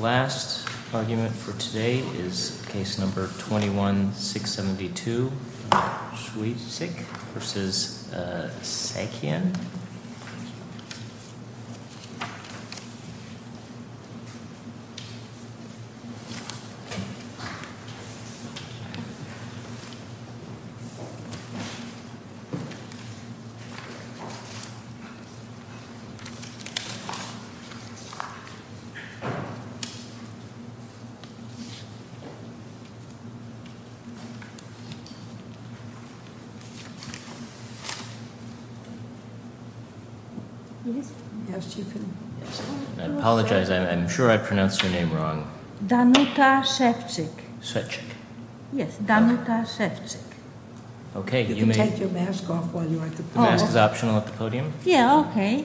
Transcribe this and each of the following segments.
Last argument for today is case number 21-672, Szewczyk v. Sakian. Danuta Szewczyk Yes, Danuta Szewczyk You can take your mask off while you're at the podium. The mask is optional at the podium? Yeah, okay.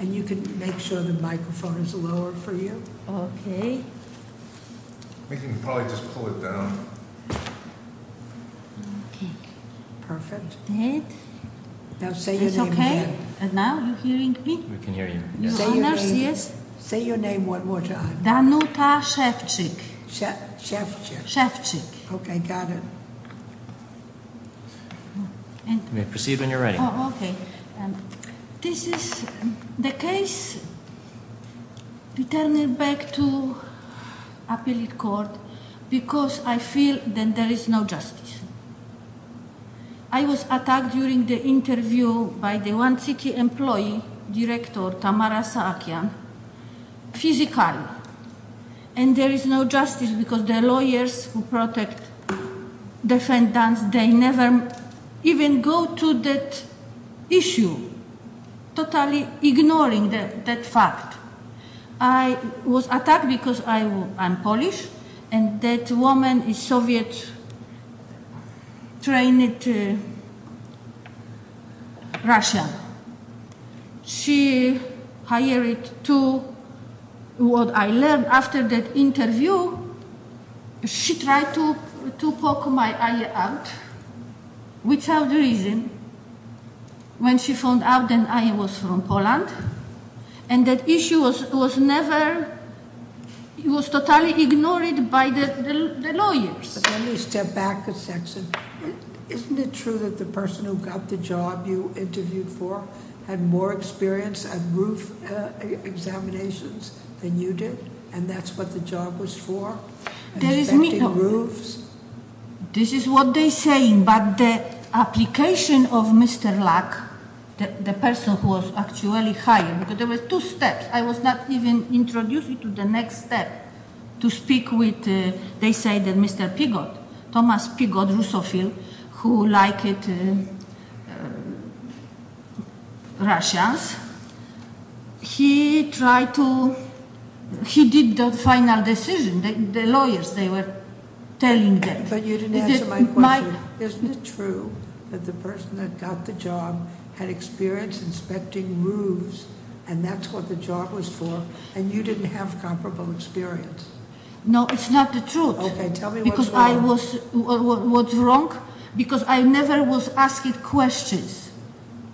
And you can make sure the microphone is lowered for you. Okay. We can probably just pull it down. Okay. Perfect. Now say your name again. It's okay? And now you're hearing me? We can hear you. Say your name one more time. Danuta Szewczyk Szewczyk Szewczyk Okay, got it. Proceed when you're ready. Okay. This is the case returning back to appellate court because I feel that there is no justice. I was attacked during the interview by the one city employee, Director Tamara Sakian, physically. And there is no justice because the lawyers who protect defendants, they never even go to that issue, totally ignoring that fact. I was attacked because I'm Polish and that woman is Soviet-trained Russian. She hired to what I learned after that interview, she tried to poke my eye out without reason. When she found out that I was from Poland and that issue was never, it was totally ignored by the lawyers. Let me step back a section. Isn't it true that the person who got the job you interviewed for had more experience at roof examinations than you did? And that's what the job was for? This is what they say, but the application of Mr. Luck, the person who was actually hired, because there were two steps. I was not even introduced to the next step to speak with, they say that Mr. Piggott, Thomas Piggott, who liked Russians. He tried to, he did the final decision, the lawyers, they were telling them. But you didn't answer my question. Isn't it true that the person that got the job had experience inspecting roofs and that's what the job was for? And you didn't have comparable experience? No, it's not the truth. Okay, tell me what's wrong. Because I was, what's wrong? Because I never was asked questions.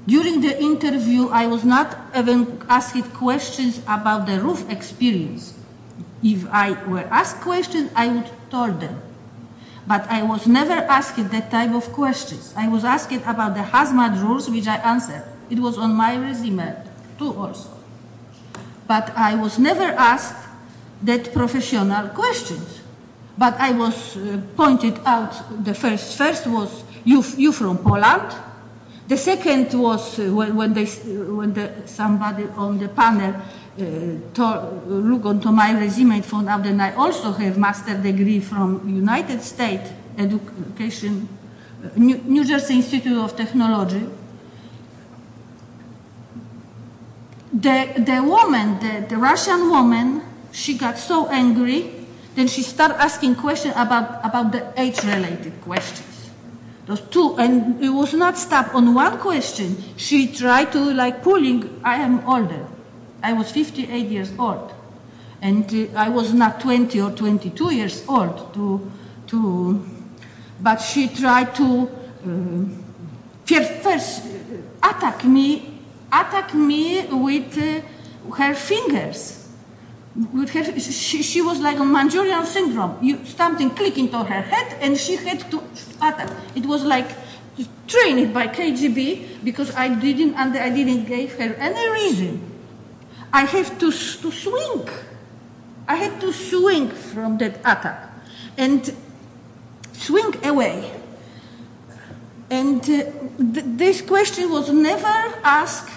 During the interview, I was not even asked questions about the roof experience. If I were asked questions, I would tell them. But I was never asked that type of questions. I was asked about the hazmat rules, which I answered. It was on my resume, too, also. But I was never asked that professional questions. But I was pointed out, the first was, you're from Poland. The second was when somebody on the panel looked into my resume and found out that I also have a master's degree from the United States, New Jersey Institute of Technology. The woman, the Russian woman, she got so angry that she started asking questions about the age-related questions. Those two. And it was not stopped on one question. She tried to, like, pulling, I am older. I was 58 years old. And I was not 20 or 22 years old. But she tried to attack me with her fingers. She was like a Manchurian syndrome. Something clicked into her head and she had to attack. It was like training by KGB because I didn't give her any reason. I had to swing. I had to swing from that attack. And swing away. And this question was never asked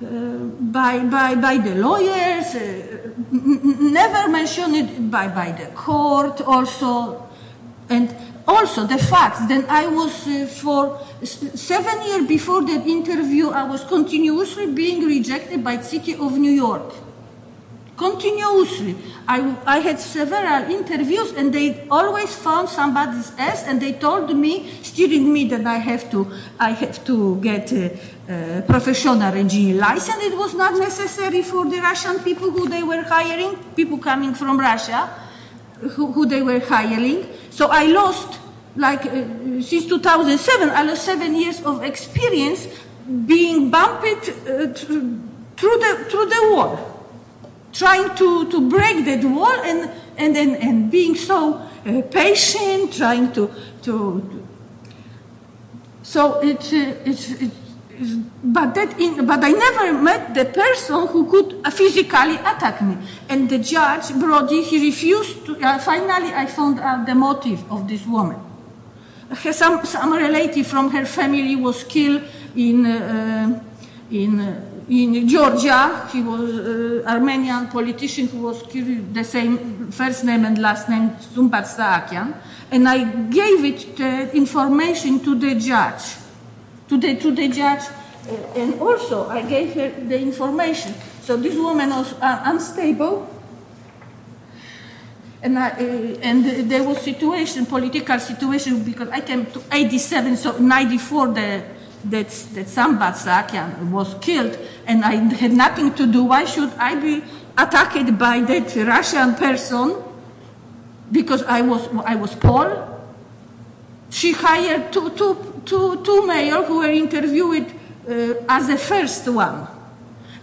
by the lawyers, never mentioned by the court, also. And also the fact that I was, for seven years before the interview, I was continuously being rejected by the city of New York. Continuously. I had several interviews and they always found somebody's ass and they told me, steering me, that I have to get a professional engineering license. It was not necessary for the Russian people who they were hiring, people coming from Russia, who they were hiring. So I lost, like, since 2007, I lost seven years of experience being bumped through the wall. Trying to break that wall and being so patient, trying to... But I never met the person who could physically attack me. And the judge, Brody, he refused. Finally, I found out the motive of this woman. Some relative from her family was killed in Georgia. He was an Armenian politician who was killed with the same first name and last name, Zumpat Saakyan. And I gave the information to the judge. To the judge. And also I gave her the information. So this woman was unstable. And there was situation, political situation, because I came to 87, so 94, that Zumpat Saakyan was killed. And I had nothing to do. Why should I be attacked by that Russian person? Because I was Paul? She hired two males who were interviewed as the first one.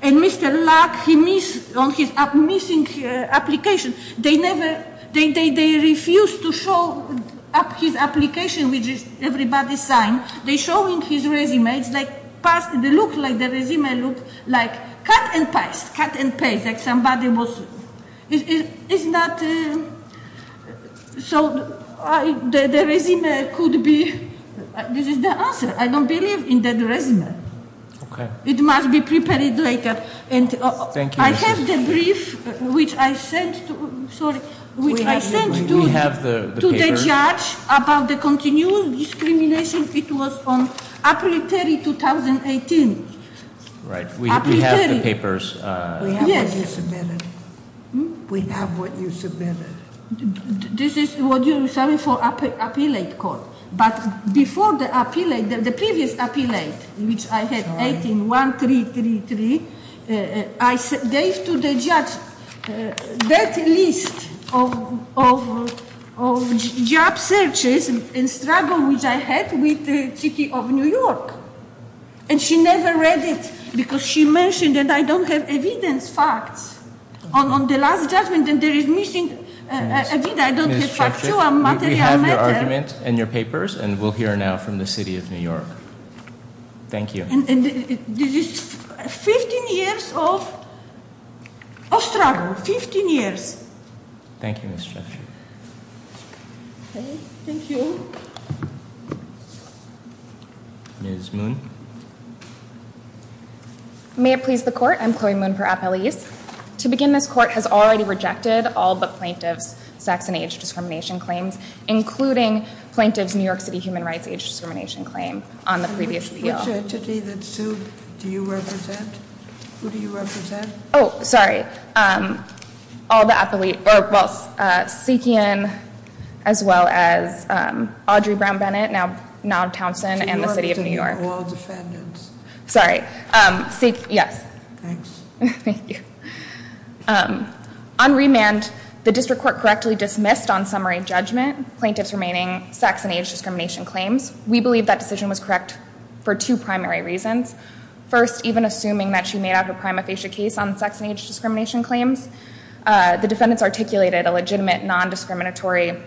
And Mr. Luck, on his missing application, they refused to show his application, which everybody signed. They showed his resume. It looked like the resume looked like cut and paste. Cut and paste, like somebody was... So the resume could be... This is the answer. I don't believe in that resume. It must be prepared later. I have the brief, which I sent to the judge about the continued discrimination. It was on April 30, 2018. Right, we have the papers. We have what you submitted. We have what you submitted. This is what you submitted for appellate court. But before the appellate, the previous appellate, which I had 18-1333, I gave to the judge that list of job searches and struggles which I had with the city of New York. And she never read it, because she mentioned that I don't have evidence, facts. On the last judgment, there is missing evidence. I don't have factual material. We have your argument and your papers, and we'll hear now from the city of New York. Thank you. And this is 15 years of struggle. 15 years. Thank you, Ms. Czechuk. Thank you. Ms. Moon. May it please the court, I'm Chloe Moon for appellees. To begin, this court has already rejected all but plaintiff's sex and age discrimination claims, including plaintiff's New York City human rights age discrimination claim on the previous appeal. Which entity that suit do you represent? Who do you represent? Sorry, all the appellate, well, Seekian as well as Audrey Brown Bennett, now Townsend, and the city of New York. New York to New York, all defendants. Sorry, Seek, yes. Thanks. Thank you. On remand, the district court correctly dismissed on summary judgment plaintiff's remaining sex and age discrimination claims. We believe that decision was correct for two primary reasons. First, even assuming that she made out her prima facie case on sex and age discrimination claims, the defendants articulated a legitimate non-discriminatory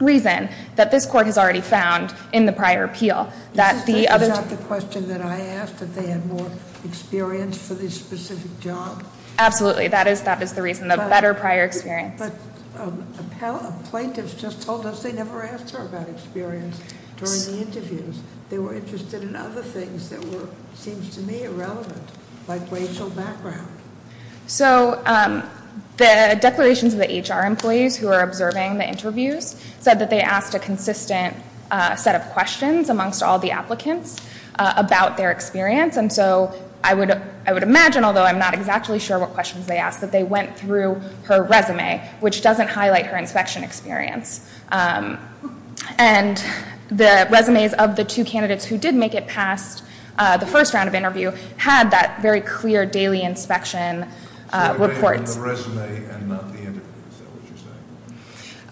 reason that this court has already found in the prior appeal. That the other- Is that the question that I asked, that they had more experience for this specific job? Absolutely, that is the reason, the better prior experience. But a plaintiff just told us they never asked her about experience during the interviews. They were interested in other things that were, seems to me, irrelevant, like racial background. So the declarations of the HR employees who are observing the interviews said that they asked a consistent set of questions amongst all the applicants about their experience. And so I would imagine, although I'm not exactly sure what questions they asked, that they went through her resume, which doesn't highlight her inspection experience. And the resumes of the two candidates who did make it past the first round of interview had that very clear daily inspection report. So they were in the resume and not the interview, is that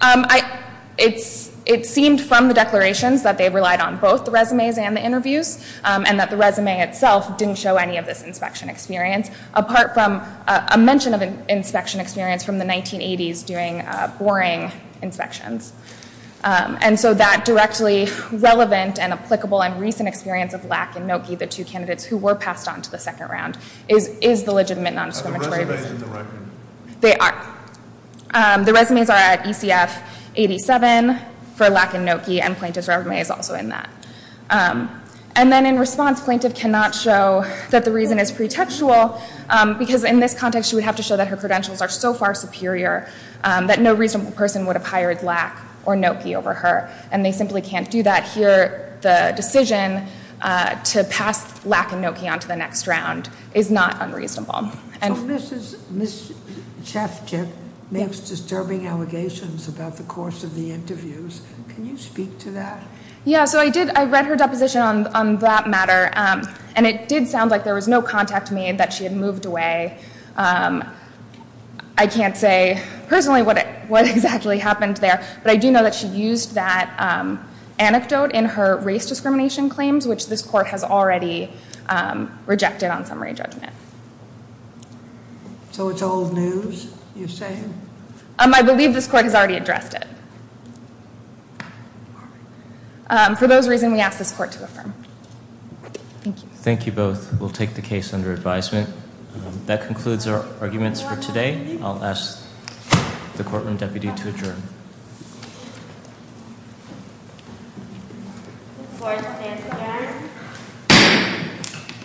what you're saying? It seemed from the declarations that they relied on both the resumes and the interviews. And that the resume itself didn't show any of this inspection experience. Apart from a mention of an inspection experience from the 1980s doing boring inspections. And so that directly relevant and applicable and recent experience of Lack and Noki, the two candidates who were passed on to the second round, is the legitimate non-discriminatory reason. Are the resumes in the record? They are. The resumes are at ECF 87 for Lack and Noki, and plaintiff's resume is also in that. And then in response, plaintiff cannot show that the reason is pretextual, because in this context, she would have to show that her credentials are so far superior that no reasonable person would have hired Lack or Noki over her. And they simply can't do that here. The decision to pass Lack and Noki on to the next round is not unreasonable. So Ms. Cheskip makes disturbing allegations about the course of the interviews. Can you speak to that? Yeah, so I did. I read her deposition on that matter, and it did sound like there was no contact made that she had moved away. I can't say personally what exactly happened there, but I do know that she used that anecdote in her race discrimination claims, which this court has already rejected on summary judgment. I believe this court has already addressed it. For those reasons, we ask this court to affirm. Thank you. Thank you both. We'll take the case under advisement. That concludes our arguments for today. I'll ask the courtroom deputy to adjourn.